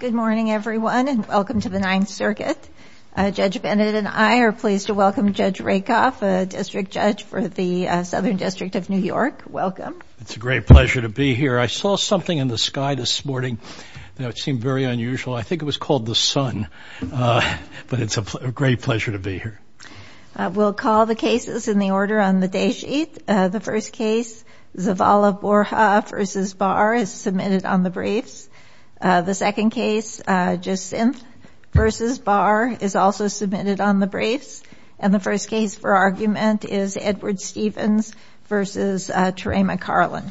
Good morning everyone and welcome to the Ninth Circuit. Judge Bennett and I are pleased to welcome Judge Rakoff, a district judge for the Southern District of New York. Welcome. It's a great pleasure to be here. I saw something in the sky this morning that seemed very unusual. I think it was called the sun. But it's a great pleasure to be here. We'll call the cases in the order on the day sheet. The first case, Zavala-Borja v. Barr is submitted on the briefs. The second case, Jacinthe v. Barr is also submitted on the briefs. And the first case for argument is Edward Stevens v. Terema Carlin.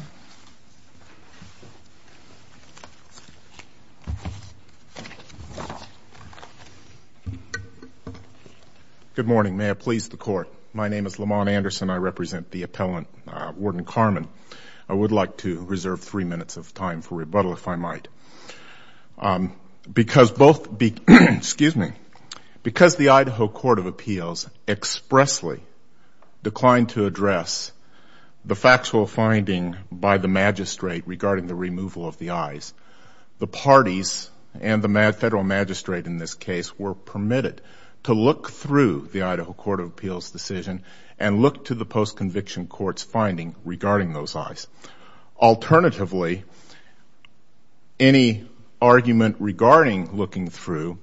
Good morning. May I please the court. My name is Lamont Anderson. I represent the appellant, Warden Carman. I would like to reserve three minutes of time for rebuttal, if I might. Because the Idaho Court of Appeals expressly declined to address the factual finding by the magistrate regarding the removal of the eyes, the parties and the federal magistrate in this case were permitted to look through the Idaho Court of Appeals decision and look to the post-conviction court's finding regarding those eyes. Alternatively, any argument regarding looking through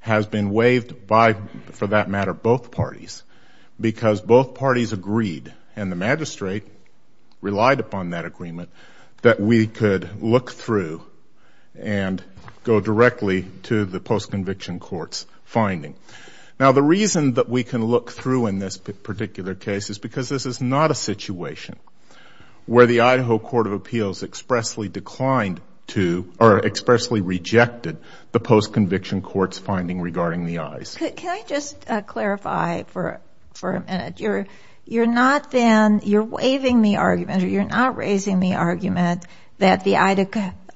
has been waived by, for that matter, both parties. Because both parties agreed, and the magistrate relied upon that agreement, that we could look through and go directly to the post-conviction court's finding. Now, the reason that we can look through in this particular case is because this is not a situation where the Idaho Court of Appeals expressly declined to or expressly rejected the post-conviction court's finding regarding the eyes. Can I just clarify for a minute? You're not then, you're waiving the argument, or you're not raising the argument, that the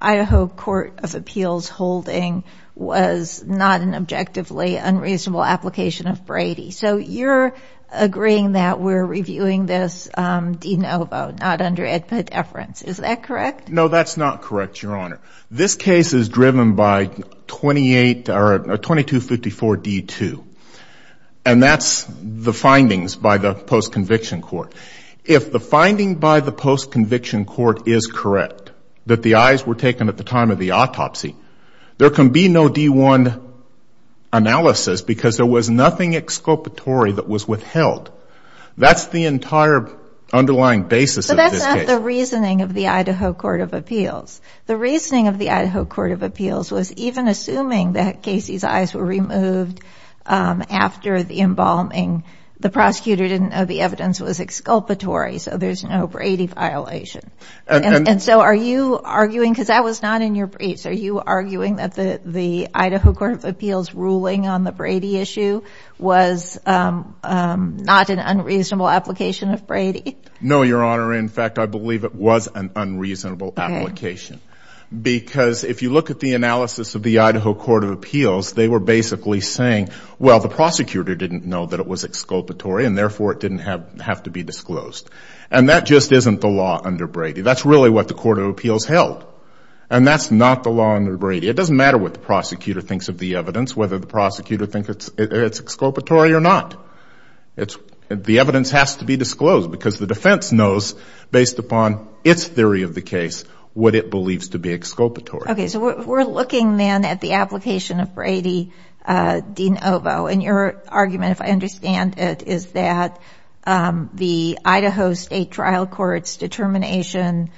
Idaho Court of Appeals holding was not an objectively unreasonable application of Brady. So you're agreeing that we're reviewing this de novo, not under a deference. Is that correct? No, that's not correct, Your Honor. This case is driven by 2254D2, and that's the findings by the post-conviction court. If the finding by the post-conviction court is correct, that the eyes were taken at the time of the autopsy, there can be no D1 analysis because there was nothing exculpatory that was withheld. That's the entire underlying basis of this case. The reasoning of the Idaho Court of Appeals was even assuming that Casey's eyes were removed after the embalming. The prosecutor didn't know the evidence was exculpatory, so there's no Brady violation. And so are you arguing, because that was not in your briefs, are you arguing that the Idaho Court of Appeals ruling on the Brady issue was not an unreasonable application of Brady? No, Your Honor. In fact, I believe it was an unreasonable application. Because if you look at the analysis of the Idaho Court of Appeals, they were basically saying, well, the prosecutor didn't know that it was exculpatory, and therefore it didn't have to be disclosed. And that just isn't the law under Brady. That's really what the Court of Appeals held. And that's not the law under Brady. It doesn't matter what the prosecutor thinks of the evidence, whether the prosecutor thinks it's exculpatory or not. The evidence has to be disclosed because the defense knows, based upon its theory of the case, what it believes to be exculpatory. Okay. So we're looking then at the application of Brady de novo. And your argument, if I understand it, is that the Idaho State Trial Court's determination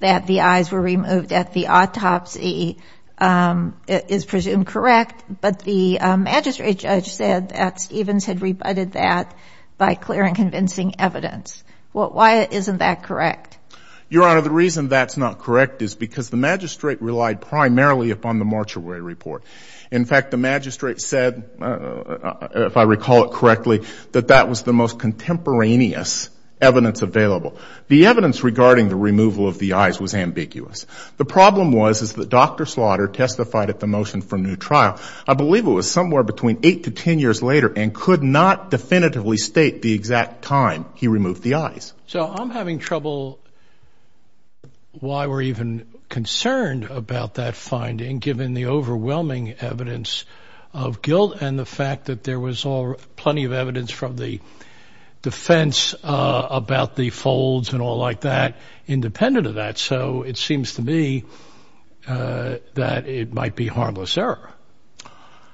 that the eyes were removed at the autopsy is presumed correct. But the magistrate judge said that Stevens had rebutted that by clear and convincing evidence. Why isn't that correct? Your Honor, the reason that's not correct is because the magistrate relied primarily upon the Marchaway report. In fact, the magistrate said, if I recall it correctly, that that was the most contemporaneous evidence available. The evidence regarding the removal of the eyes was ambiguous. The problem was that Dr. Slaughter testified at the motion for new trial, I believe it was somewhere between 8 to 10 years later, and could not definitively state the exact time he removed the eyes. So I'm having trouble why we're even concerned about that finding, given the overwhelming evidence of guilt and the fact that there was plenty of evidence from the defense about the folds and all like that, independent of that. So it seems to me that it might be harmless error,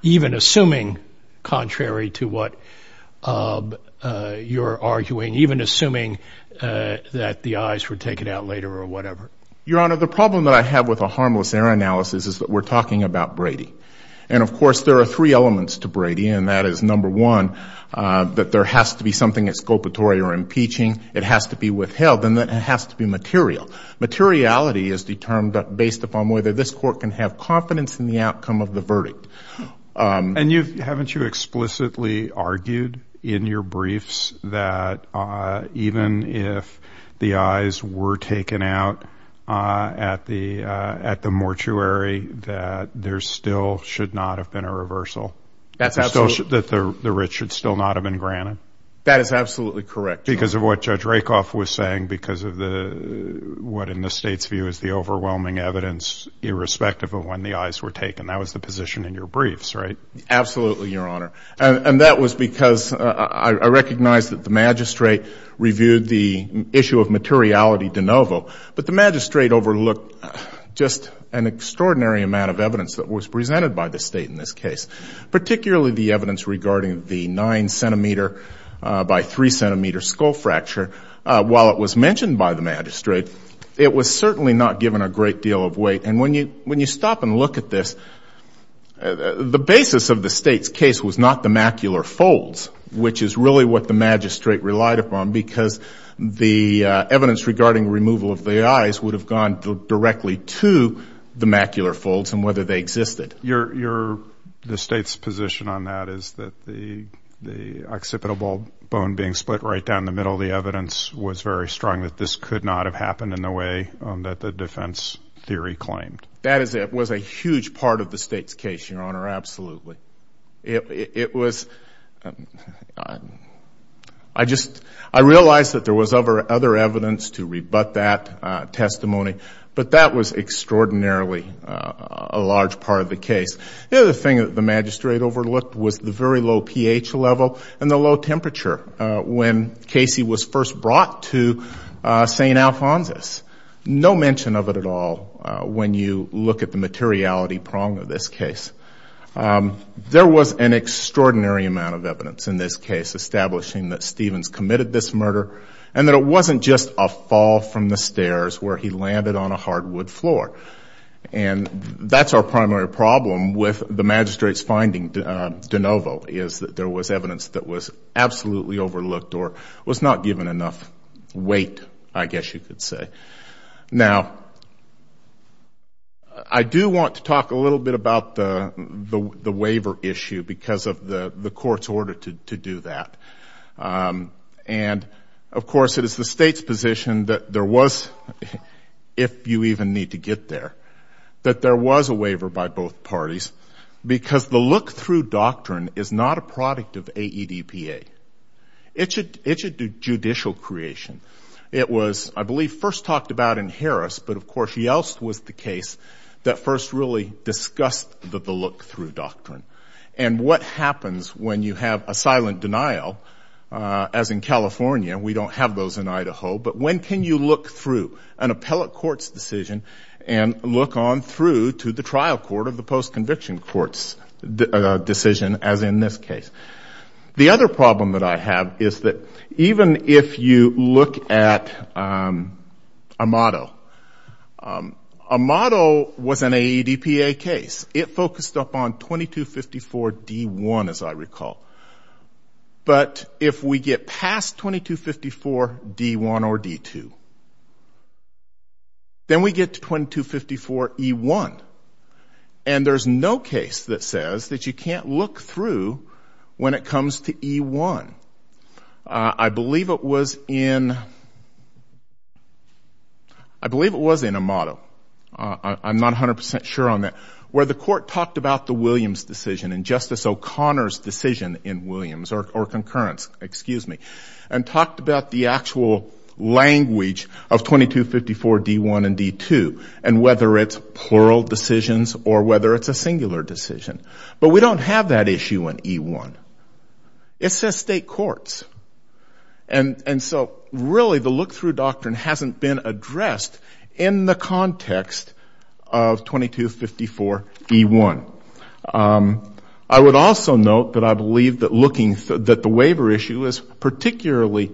even assuming contrary to what you're arguing, even assuming that the eyes were taken out later or whatever. Your Honor, the problem that I have with a harmless error analysis is that we're talking about Brady. And, of course, there are three elements to Brady, and that is, number one, that there has to be something exculpatory or impeaching. It has to be withheld, and it has to be material. Materiality is determined based upon whether this court can have confidence in the outcome of the verdict. And haven't you explicitly argued in your briefs that even if the eyes were taken out at the mortuary, that there still should not have been a reversal? That the writ should still not have been granted? That is absolutely correct, Your Honor. That's what Judge Rakoff was saying because of what in the State's view is the overwhelming evidence, irrespective of when the eyes were taken. That was the position in your briefs, right? Absolutely, Your Honor. And that was because I recognize that the magistrate reviewed the issue of materiality de novo, but the magistrate overlooked just an extraordinary amount of evidence that was presented by the State in this case, particularly the evidence regarding the 9 centimeter by 3 centimeter skull fracture. While it was mentioned by the magistrate, it was certainly not given a great deal of weight. And when you stop and look at this, the basis of the State's case was not the macular folds, which is really what the magistrate relied upon because the evidence regarding removal of the eyes would have gone directly to the macular folds and whether they existed. The State's position on that is that the occipital bone being split right down the middle of the evidence was very strong that this could not have happened in the way that the defense theory claimed. That was a huge part of the State's case, Your Honor, absolutely. It was – I just – I realized that there was other evidence to rebut that testimony, but that was extraordinarily a large part of the case. The other thing that the magistrate overlooked was the very low pH level and the low temperature when Casey was first brought to St. Alphonsus. No mention of it at all when you look at the materiality prong of this case. There was an extraordinary amount of evidence in this case establishing that Stevens committed this murder and that it wasn't just a fall from the stairs where he landed on a hardwood floor. And that's our primary problem with the magistrate's finding, de novo, is that there was evidence that was absolutely overlooked or was not given enough weight, I guess you could say. Now, I do want to talk a little bit about the waiver issue because of the court's order to do that. And, of course, it is the State's position that there was, if you even need to get there, that there was a waiver by both parties because the look-through doctrine is not a product of AEDPA. It's a judicial creation. It was, I believe, first talked about in Harris, but, of course, Yeltsin was the case that first really discussed the look-through doctrine. And what happens when you have a silent denial, as in California? We don't have those in Idaho. But when can you look through an appellate court's decision and look on through to the trial court of the post-conviction court's decision, as in this case? The other problem that I have is that even if you look at Amato, Amato was an AEDPA case. It focused up on 2254 D-1, as I recall. But if we get past 2254 D-1 or D-2, then we get to 2254 E-1. And there's no case that says that you can't look through when it comes to E-1. I believe it was in Amato. I'm not 100% sure on that, where the court talked about the Williams decision and Justice O'Connor's decision in Williams, or concurrence, excuse me, and talked about the actual language of 2254 D-1 and D-2 and whether it's plural decisions or whether it's a singular decision. But we don't have that issue in E-1. It says state courts. And so, really, the look-through doctrine hasn't been addressed in the context of 2254 E-1. I would also note that I believe that the waiver issue is particularly,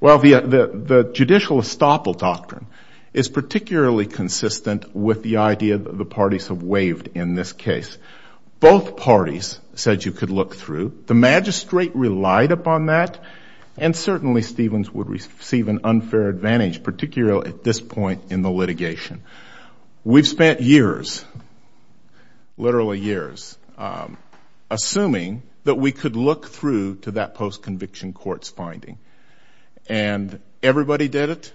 well, the judicial estoppel doctrine is particularly consistent with the idea that the parties have waived in this case. Both parties said you could look through. The magistrate relied upon that, and certainly Stevens would receive an unfair advantage, particularly at this point in the litigation. We've spent years, literally years, assuming that we could look through to that post-conviction court's finding. And everybody did it.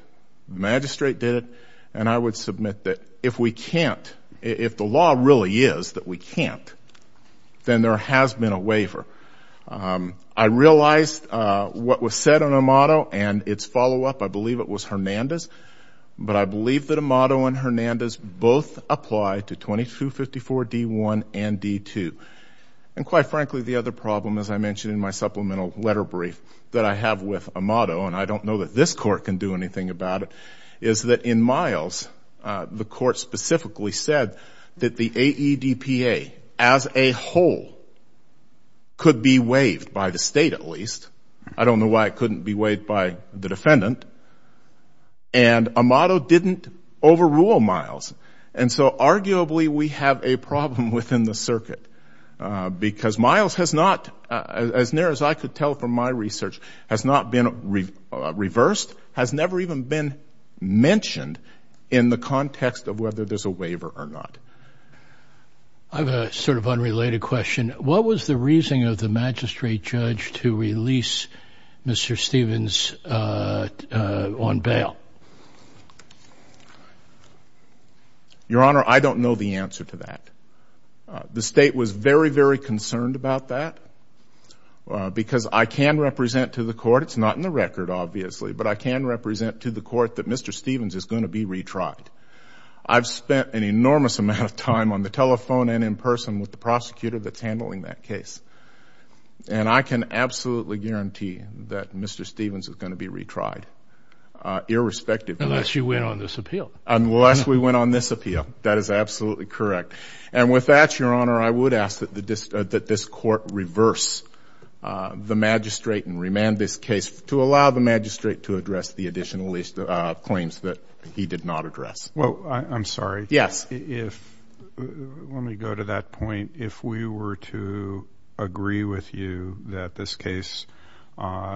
The magistrate did it. And I would submit that if we can't, if the law really is that we can't, then there has been a waiver. I realized what was said on Amato and its follow-up. I believe it was Hernandez. But I believe that Amato and Hernandez both apply to 2254 D-1 and D-2. And, quite frankly, the other problem, as I mentioned in my supplemental letter brief that I have with Amato, and I don't know that this Court can do anything about it, is that in Miles, the Court specifically said that the AEDPA as a whole could be waived, by the State at least. I don't know why it couldn't be waived by the defendant. And Amato didn't overrule Miles. And so arguably we have a problem within the circuit, because Miles has not, as near as I could tell from my research, has not been reversed, has never even been mentioned in the context of whether there's a waiver or not. I have a sort of unrelated question. What was the reasoning of the magistrate judge to release Mr. Stevens on bail? Your Honor, I don't know the answer to that. The State was very, very concerned about that, because I can represent to the Court, it's not in the record, obviously, but I can represent to the Court that Mr. Stevens is going to be retried. I've spent an enormous amount of time on the telephone and in person with the prosecutor that's handling that case. And I can absolutely guarantee that Mr. Stevens is going to be retried, irrespective. Unless you win on this appeal. Unless we win on this appeal. That is absolutely correct. And with that, Your Honor, I would ask that this Court reverse the magistrate and remand this case to allow the magistrate to address the additional claims that he did not address. Well, I'm sorry. Yes. Let me go to that point. If we were to agree with you that this case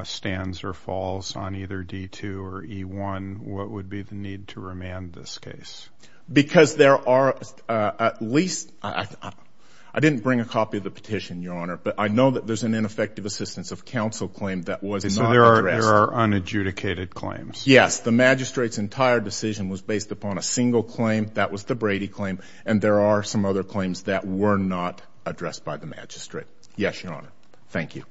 stands or falls on either D2 or E1, what would be the need to remand this case? Because there are at least — I didn't bring a copy of the petition, Your Honor, but I know that there's an ineffective assistance of counsel claim that was not addressed. So there are unadjudicated claims. Yes. The magistrate's entire decision was based upon a single claim. That was the Brady claim. And there are some other claims that were not addressed by the magistrate. Yes, Your Honor. Thank you.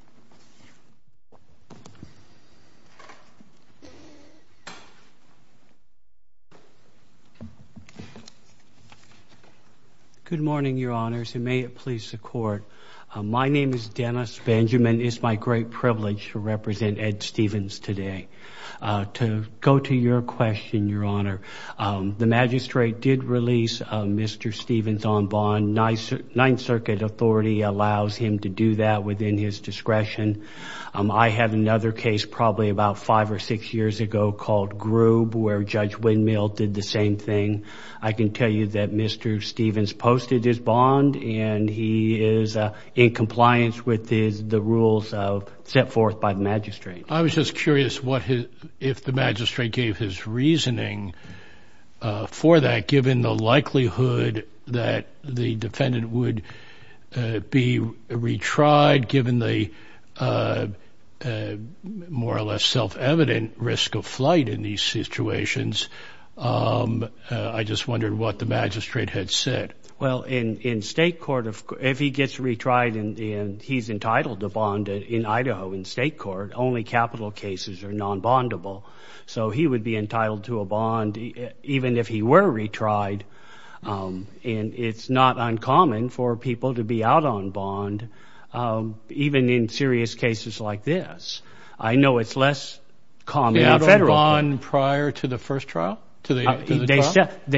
Good morning, Your Honors, and may it please the Court. My name is Dennis Benjamin. It's my great privilege to represent Ed Stephens today. To go to your question, Your Honor, the magistrate did release Mr. Stephens on bond. Ninth Circuit authority allows him to do that within his discretion. I have another case, probably about five or six years ago, called Groob, where Judge Windmill did the same thing. I can tell you that Mr. Stephens posted his bond, and he is in compliance with the rules set forth by the magistrate. I was just curious if the magistrate gave his reasoning for that, that the defendant would be retried given the more or less self-evident risk of flight in these situations. I just wondered what the magistrate had said. Well, in state court, if he gets retried and he's entitled to bond in Idaho in state court, only capital cases are non-bondable. So he would be entitled to a bond even if he were retried, and it's not uncommon for people to be out on bond, even in serious cases like this. I know it's less common in federal court. Did he have a bond prior to the first trial? They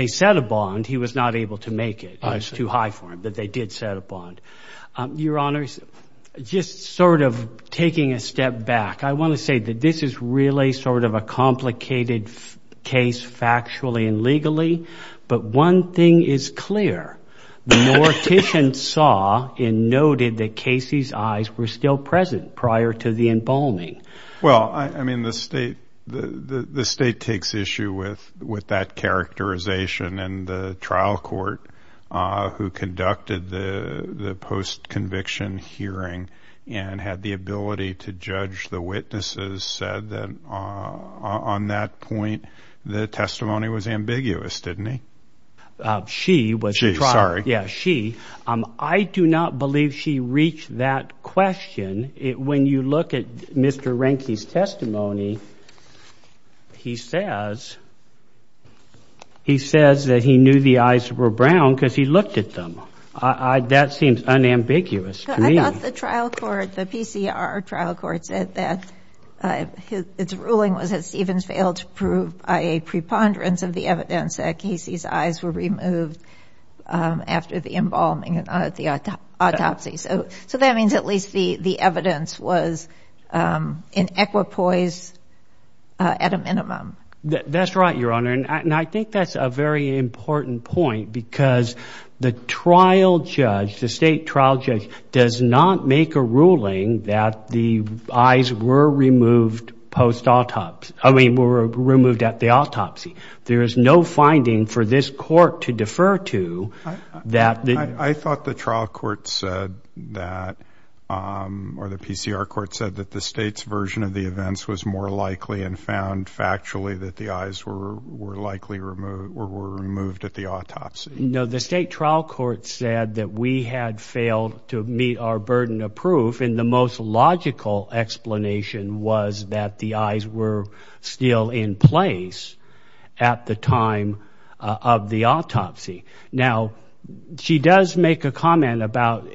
set a bond. He was not able to make it. It was too high for him, but they did set a bond. Your Honors, just sort of taking a step back, I want to say that this is really sort of a complicated case factually and legally, but one thing is clear. The mortician saw and noted that Casey's eyes were still present prior to the embalming. Well, I mean the state takes issue with that characterization, and the trial court who conducted the post-conviction hearing and had the ability to judge the witnesses said that on that point the testimony was ambiguous, didn't he? She was the trial. She, sorry. Yeah, she. I do not believe she reached that question. When you look at Mr. Reinke's testimony, he says that he knew the eyes were brown because he looked at them. That seems unambiguous to me. The trial court, the PCR trial court said that its ruling was that Stevens failed to prove a preponderance of the evidence that Casey's eyes were removed after the embalming at the autopsy. So that means at least the evidence was in equipoise at a minimum. That's right, Your Honor, and I think that's a very important point because the trial judge, the state trial judge does not make a ruling that the eyes were removed post-autopsy, I mean were removed at the autopsy. There is no finding for this court to defer to that the- I thought the trial court said that, or the PCR court said that the state's version of the events was more likely and found factually that the eyes were likely removed or were removed at the autopsy. No, the state trial court said that we had failed to meet our burden of proof and the most logical explanation was that the eyes were still in place at the time of the autopsy. Now, she does make a comment about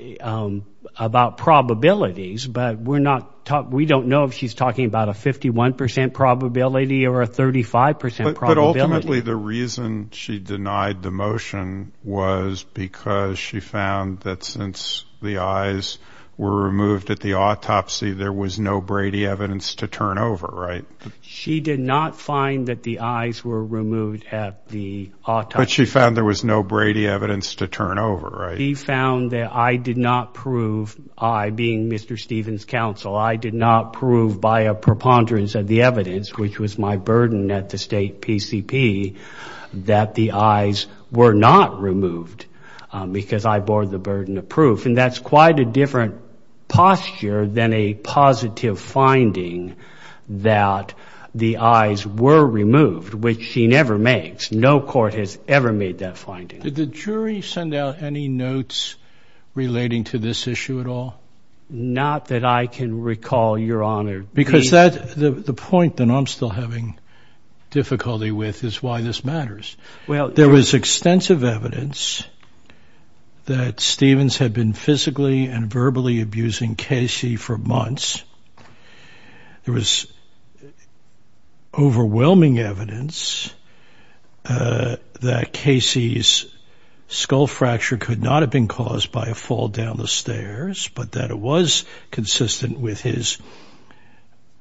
probabilities, but we don't know if she's talking about a 51% probability or a 35% probability. But ultimately the reason she denied the motion was because she found that since the eyes were removed at the autopsy, there was no Brady evidence to turn over, right? She did not find that the eyes were removed at the autopsy. But she found there was no Brady evidence to turn over, right? She found that I did not prove, I being Mr. Stevens' counsel, I did not prove by a preponderance of the evidence, which was my burden at the state PCP, that the eyes were not removed because I bore the burden of proof. And that's quite a different posture than a positive finding that the eyes were removed, which she never makes. No court has ever made that finding. Did the jury send out any notes relating to this issue at all? Not that I can recall, Your Honor. Because the point that I'm still having difficulty with is why this matters. There was extensive evidence that Stevens had been physically and verbally abusing Casey for months. There was overwhelming evidence that Casey's skull fracture could not have been caused by a fall down the stairs, but that it was consistent with his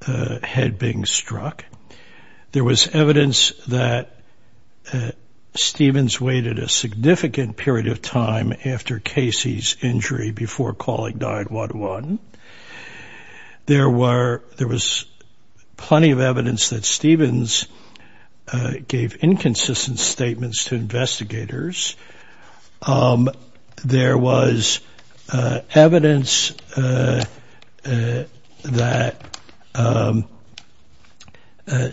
head being struck. There was evidence that Stevens waited a significant period of time after Casey's injury before calling 911. There was plenty of evidence that Stevens gave inconsistent statements to investigators. There was evidence that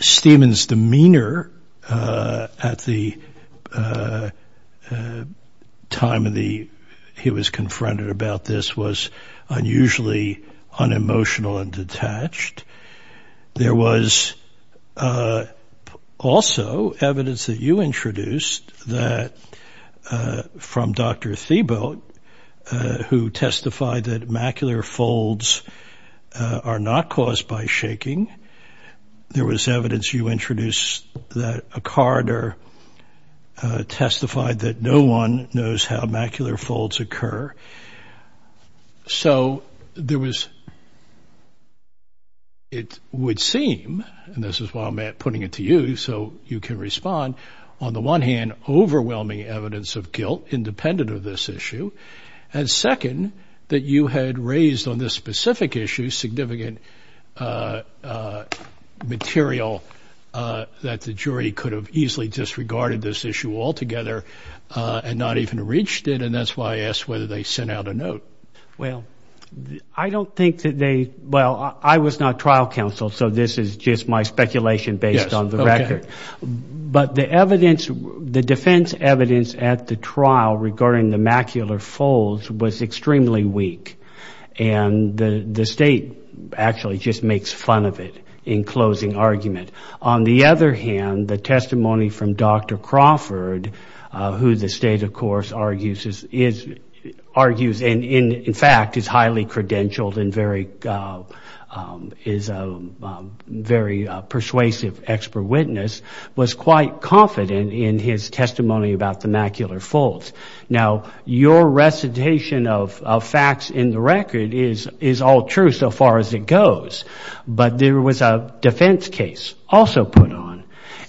Stevens' demeanor at the time he was confronted about this was unusually unemotional and detached. There was also evidence that you introduced from Dr. Thiebaud who testified that macular folds are not caused by shaking. There was evidence you introduced that O'Connor testified that no one knows how macular folds occur. So there was, it would seem, and this is why I'm putting it to you so you can respond. On the one hand, overwhelming evidence of guilt independent of this issue. And second, that you had raised on this specific issue significant material that the jury could have easily disregarded this issue altogether and not even reached it. And that's why I asked whether they sent out a note. Well, I don't think that they, well, I was not trial counsel, so this is just my speculation based on the record. But the evidence, the defense evidence at the trial regarding the macular folds was extremely weak. And the state actually just makes fun of it in closing argument. On the other hand, the testimony from Dr. Crawford, who the state, of course, argues and in fact is highly credentialed and is a very persuasive expert witness, was quite confident in his testimony about the macular folds. Now, your recitation of facts in the record is all true so far as it goes. But there was a defense case also put on.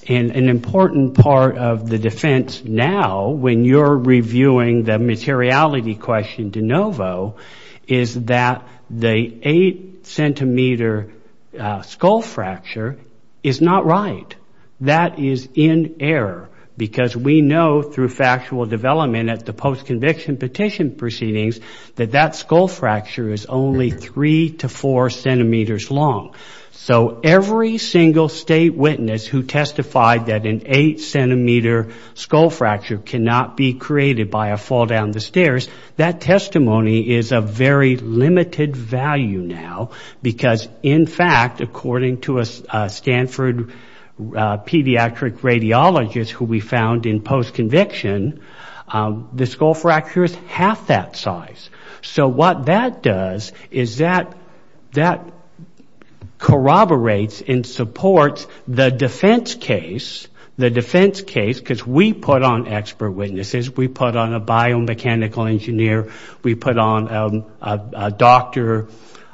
And an important part of the defense now when you're reviewing the materiality question de novo is that the 8-centimeter skull fracture is not right. That is in error because we know through factual development at the post-conviction petition proceedings that that skull fracture is only 3 to 4 centimeters long. So every single state witness who testified that an 8-centimeter skull fracture cannot be created by a fall down the stairs, that testimony is of very limited value now because, in fact, according to a Stanford pediatric radiologist who we found in post-conviction, the skull fracture is half that size. So what that does is that that corroborates and supports the defense case, the defense case, because we put on expert witnesses. We put on a biomechanical engineer. We put on a doctor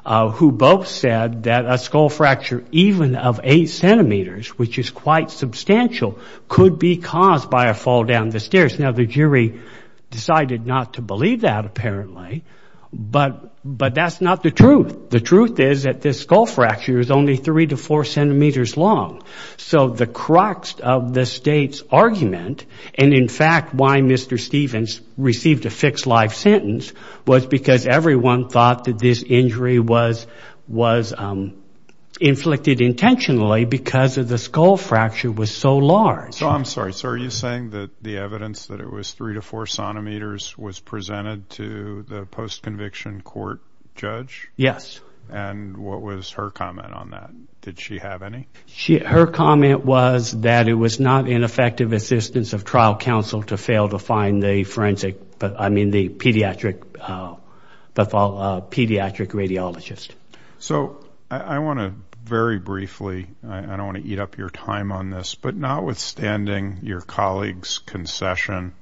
who both said that a skull fracture even of 8 centimeters, which is quite substantial, could be caused by a fall down the stairs. Now, the jury decided not to believe that apparently, but that's not the truth. The truth is that this skull fracture is only 3 to 4 centimeters long. So the crux of the state's argument and, in fact, why Mr. Stevens received a fixed-life sentence was because everyone thought that this injury was inflicted intentionally because the skull fracture was so large. So I'm sorry. So are you saying that the evidence that it was 3 to 4 centimeters was presented to the post-conviction court judge? Yes. And what was her comment on that? Did she have any? Her comment was that it was not an effective assistance of trial counsel to fail to find the forensic, I mean, the pediatric radiologist. So I want to very briefly, I don't want to eat up your time on this, but notwithstanding your colleague's concession,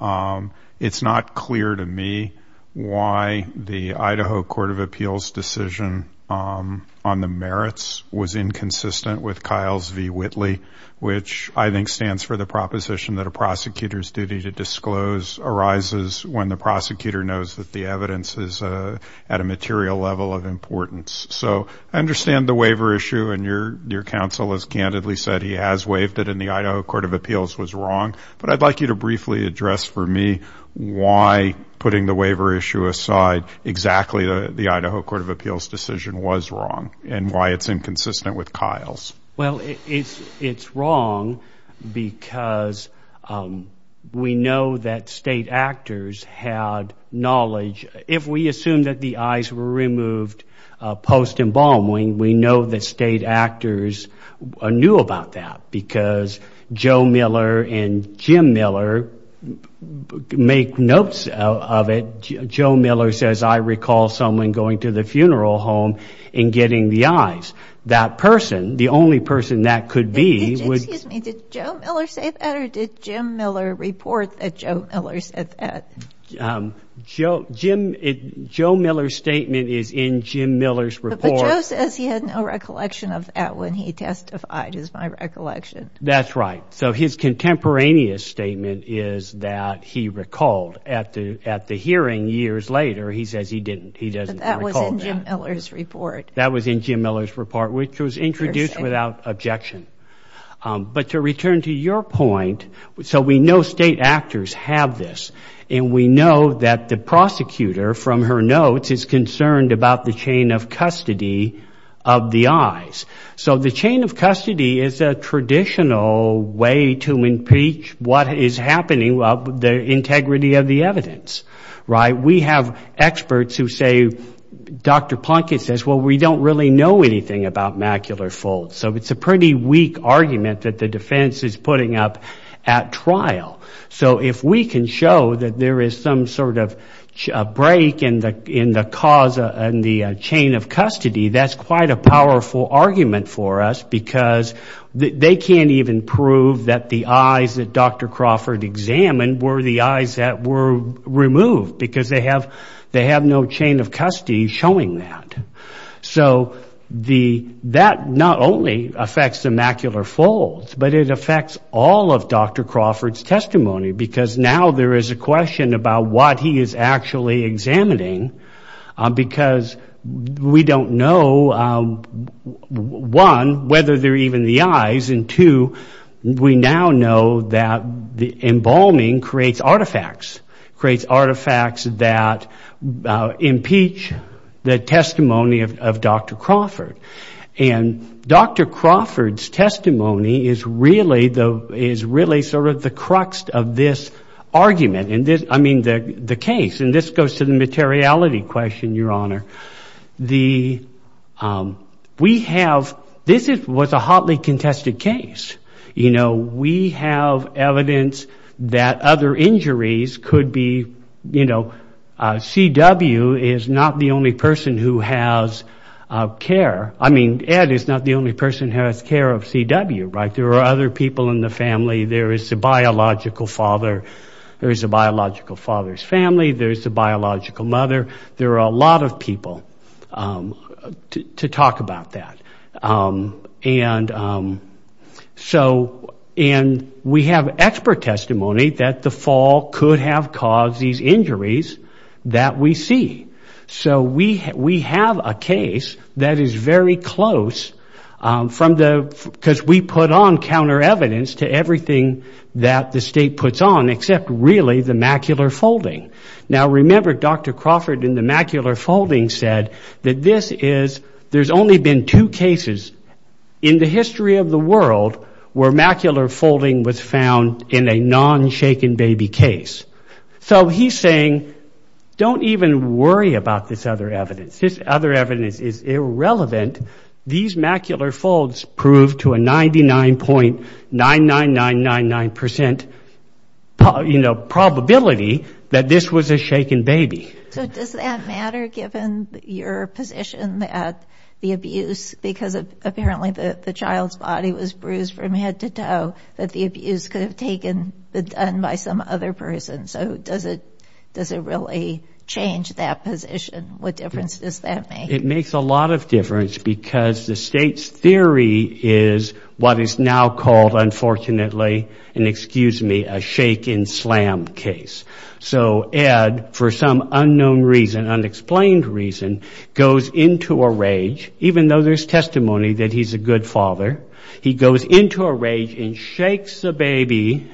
it's not clear to me why the Idaho Court of Appeals decision on the merits was inconsistent with Kyle's v. Whitley, which I think stands for the proposition that a prosecutor's duty to disclose arises when the prosecutor knows that the evidence is at a material level of importance. So I understand the waiver issue, and your counsel has candidly said he has waived it, and the Idaho Court of Appeals was wrong. But I'd like you to briefly address for me why, putting the waiver issue aside, exactly the Idaho Court of Appeals decision was wrong and why it's inconsistent with Kyle's. Well, it's wrong because we know that state actors had knowledge. If we assume that the eyes were removed post-embalming, we know that state actors knew about that because Joe Miller and Jim Miller make notes of it. Joe Miller says, I recall someone going to the funeral home and getting the eyes. That person, the only person that could be would... Excuse me, did Joe Miller say that or did Jim Miller report that Joe Miller said that? But Joe says he had no recollection of that when he testified, is my recollection. That's right. So his contemporaneous statement is that he recalled. At the hearing years later, he says he didn't. He doesn't recall that. But that was in Jim Miller's report. That was in Jim Miller's report, which was introduced without objection. But to return to your point, so we know state actors have this, and we know that the prosecutor, from her notes, is concerned about the chain of custody of the eyes. So the chain of custody is a traditional way to impeach what is happening, the integrity of the evidence. We have experts who say, Dr. Plunkett says, well, we don't really know anything about macular folds. So it's a pretty weak argument that the defense is putting up at trial. So if we can show that there is some sort of break in the cause and the chain of custody, that's quite a powerful argument for us because they can't even prove that the eyes that Dr. Crawford examined were the eyes that were removed because they have no chain of custody showing that. So that not only affects the macular folds, but it affects all of Dr. Crawford's testimony because now there is a question about what he is actually examining because we don't know, one, whether they're even the eyes, and two, we now know that the embalming creates artifacts, creates artifacts that impeach the testimony of Dr. Crawford. And Dr. Crawford's testimony is really sort of the crux of this argument, I mean, the case. And this goes to the materiality question, Your Honor. This was a hotly contested case. You know, we have evidence that other injuries could be, you know, C.W. is not the only person who has care. I mean, Ed is not the only person who has care of C.W., right? There are other people in the family. There is a biological father. There is a biological father's family. There is a biological mother. There are a lot of people to talk about that. And so, and we have expert testimony that the fall could have caused these injuries that we see. So we have a case that is very close from the, because we put on counter evidence to everything that the state puts on, except really the macular folding. Now, remember, Dr. Crawford in the macular folding said that this is, there's only been two cases in the history of the world where macular folding was found in a non-shaken baby case. So he's saying, don't even worry about this other evidence. This other evidence is irrelevant. These macular folds prove to a 99.99999% probability that this was a shaken baby. So does that matter given your position that the abuse, because apparently the child's body was bruised from head to toe, that the abuse could have taken, been done by some other person? So does it really change that position? What difference does that make? It makes a lot of difference because the state's theory is what is now called, unfortunately, and excuse me, a shaken slam case. So Ed, for some unknown reason, unexplained reason, goes into a rage, even though there's testimony that he's a good father. He goes into a rage and shakes the baby.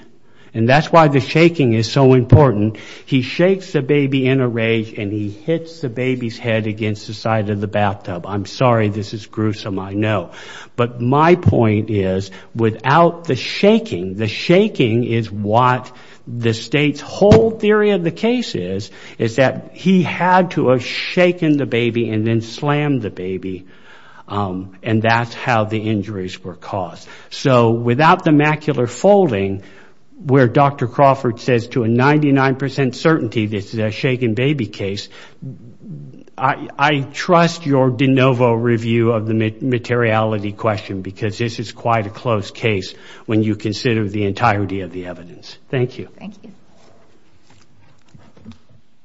And that's why the shaking is so important. He shakes the baby in a rage and he hits the baby's head against the side of the bathtub. I'm sorry, this is gruesome, I know. But my point is, without the shaking, the shaking is what the state's whole theory of the case is, is that he had to have shaken the baby and then slammed the baby. And that's how the injuries were caused. So without the macular folding, where Dr. Crawford says to a 99% certainty this is a shaken baby case, I trust your de novo review of the materiality question because this is quite a close case when you consider the entirety of the evidence. Thank you. Thank you.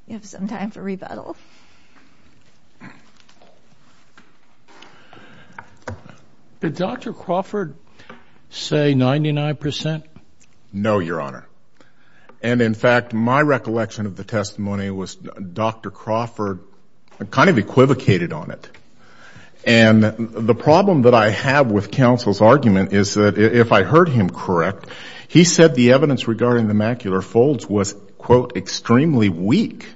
We have some time for rebuttal. Go ahead. Did Dr. Crawford say 99%? No, Your Honor. And, in fact, my recollection of the testimony was Dr. Crawford kind of equivocated on it. And the problem that I have with counsel's argument is that if I heard him correct, he said the evidence regarding the macular folds was, quote, extremely weak.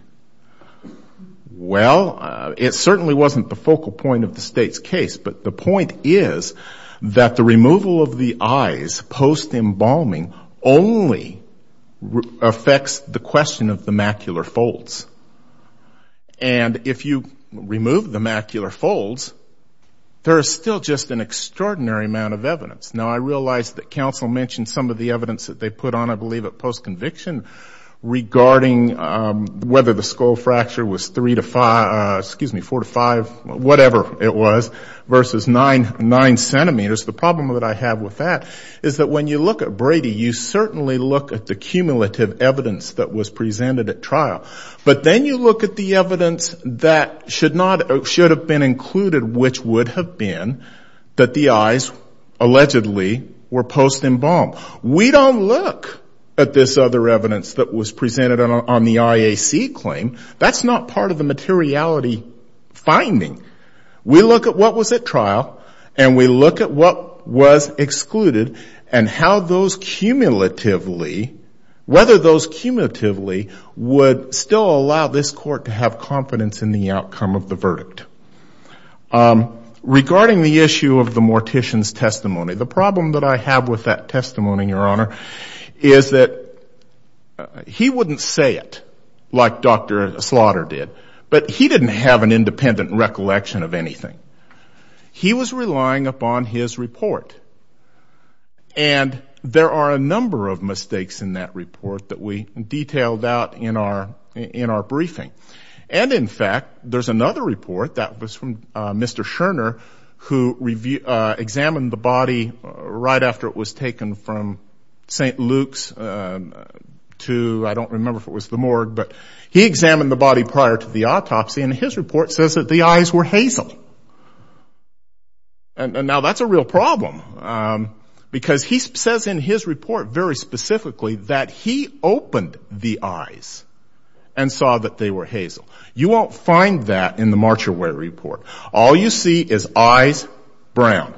Well, it certainly wasn't the focal point of the state's case. But the point is that the removal of the eyes post-embalming only affects the question of the macular folds. And if you remove the macular folds, there is still just an extraordinary amount of evidence. Now, I realize that counsel mentioned some of the evidence that they put on, I believe, at post-conviction regarding whether the skull fracture was 3 to 5, excuse me, 4 to 5, whatever it was, versus 9 centimeters. The problem that I have with that is that when you look at Brady, you certainly look at the cumulative evidence that was presented at trial. But then you look at the evidence that should have been included, which would have been, that the eyes allegedly were post-embalmed. We don't look at this other evidence that was presented on the IAC claim. That's not part of the materiality finding. We look at what was at trial, and we look at what was excluded, and how those cumulatively, whether those cumulatively would still allow this court to have confidence in the outcome of the verdict. Regarding the issue of the mortician's testimony, the problem that I have with that testimony, Your Honor, is that he wouldn't say it like Dr. Slaughter did. But he didn't have an independent recollection of anything. He was relying upon his report. And there are a number of mistakes in that report that we detailed out in our briefing. And, in fact, there's another report that was from Mr. Scherner, who examined the body right after it was taken from St. Luke's to, I don't remember if it was the morgue, but he examined the body prior to the autopsy, and his report says that the eyes were hazel. And now that's a real problem, because he says in his report very specifically that he opened the eyes and saw that they were hazel. You won't find that in the Marcher Way report. All you see is eyes brown.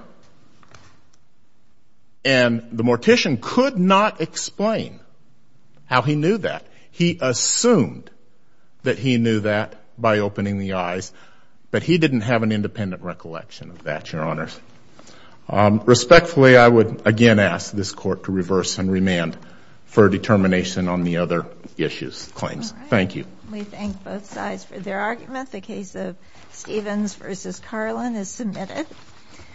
And the mortician could not explain how he knew that. He assumed that he knew that by opening the eyes, but he didn't have an independent recollection of that, Your Honors. Respectfully, I would again ask this Court to reverse and remand for determination on the other claims. Thank you. We thank both sides for their argument. The case of Stevens v. Carlin is submitted.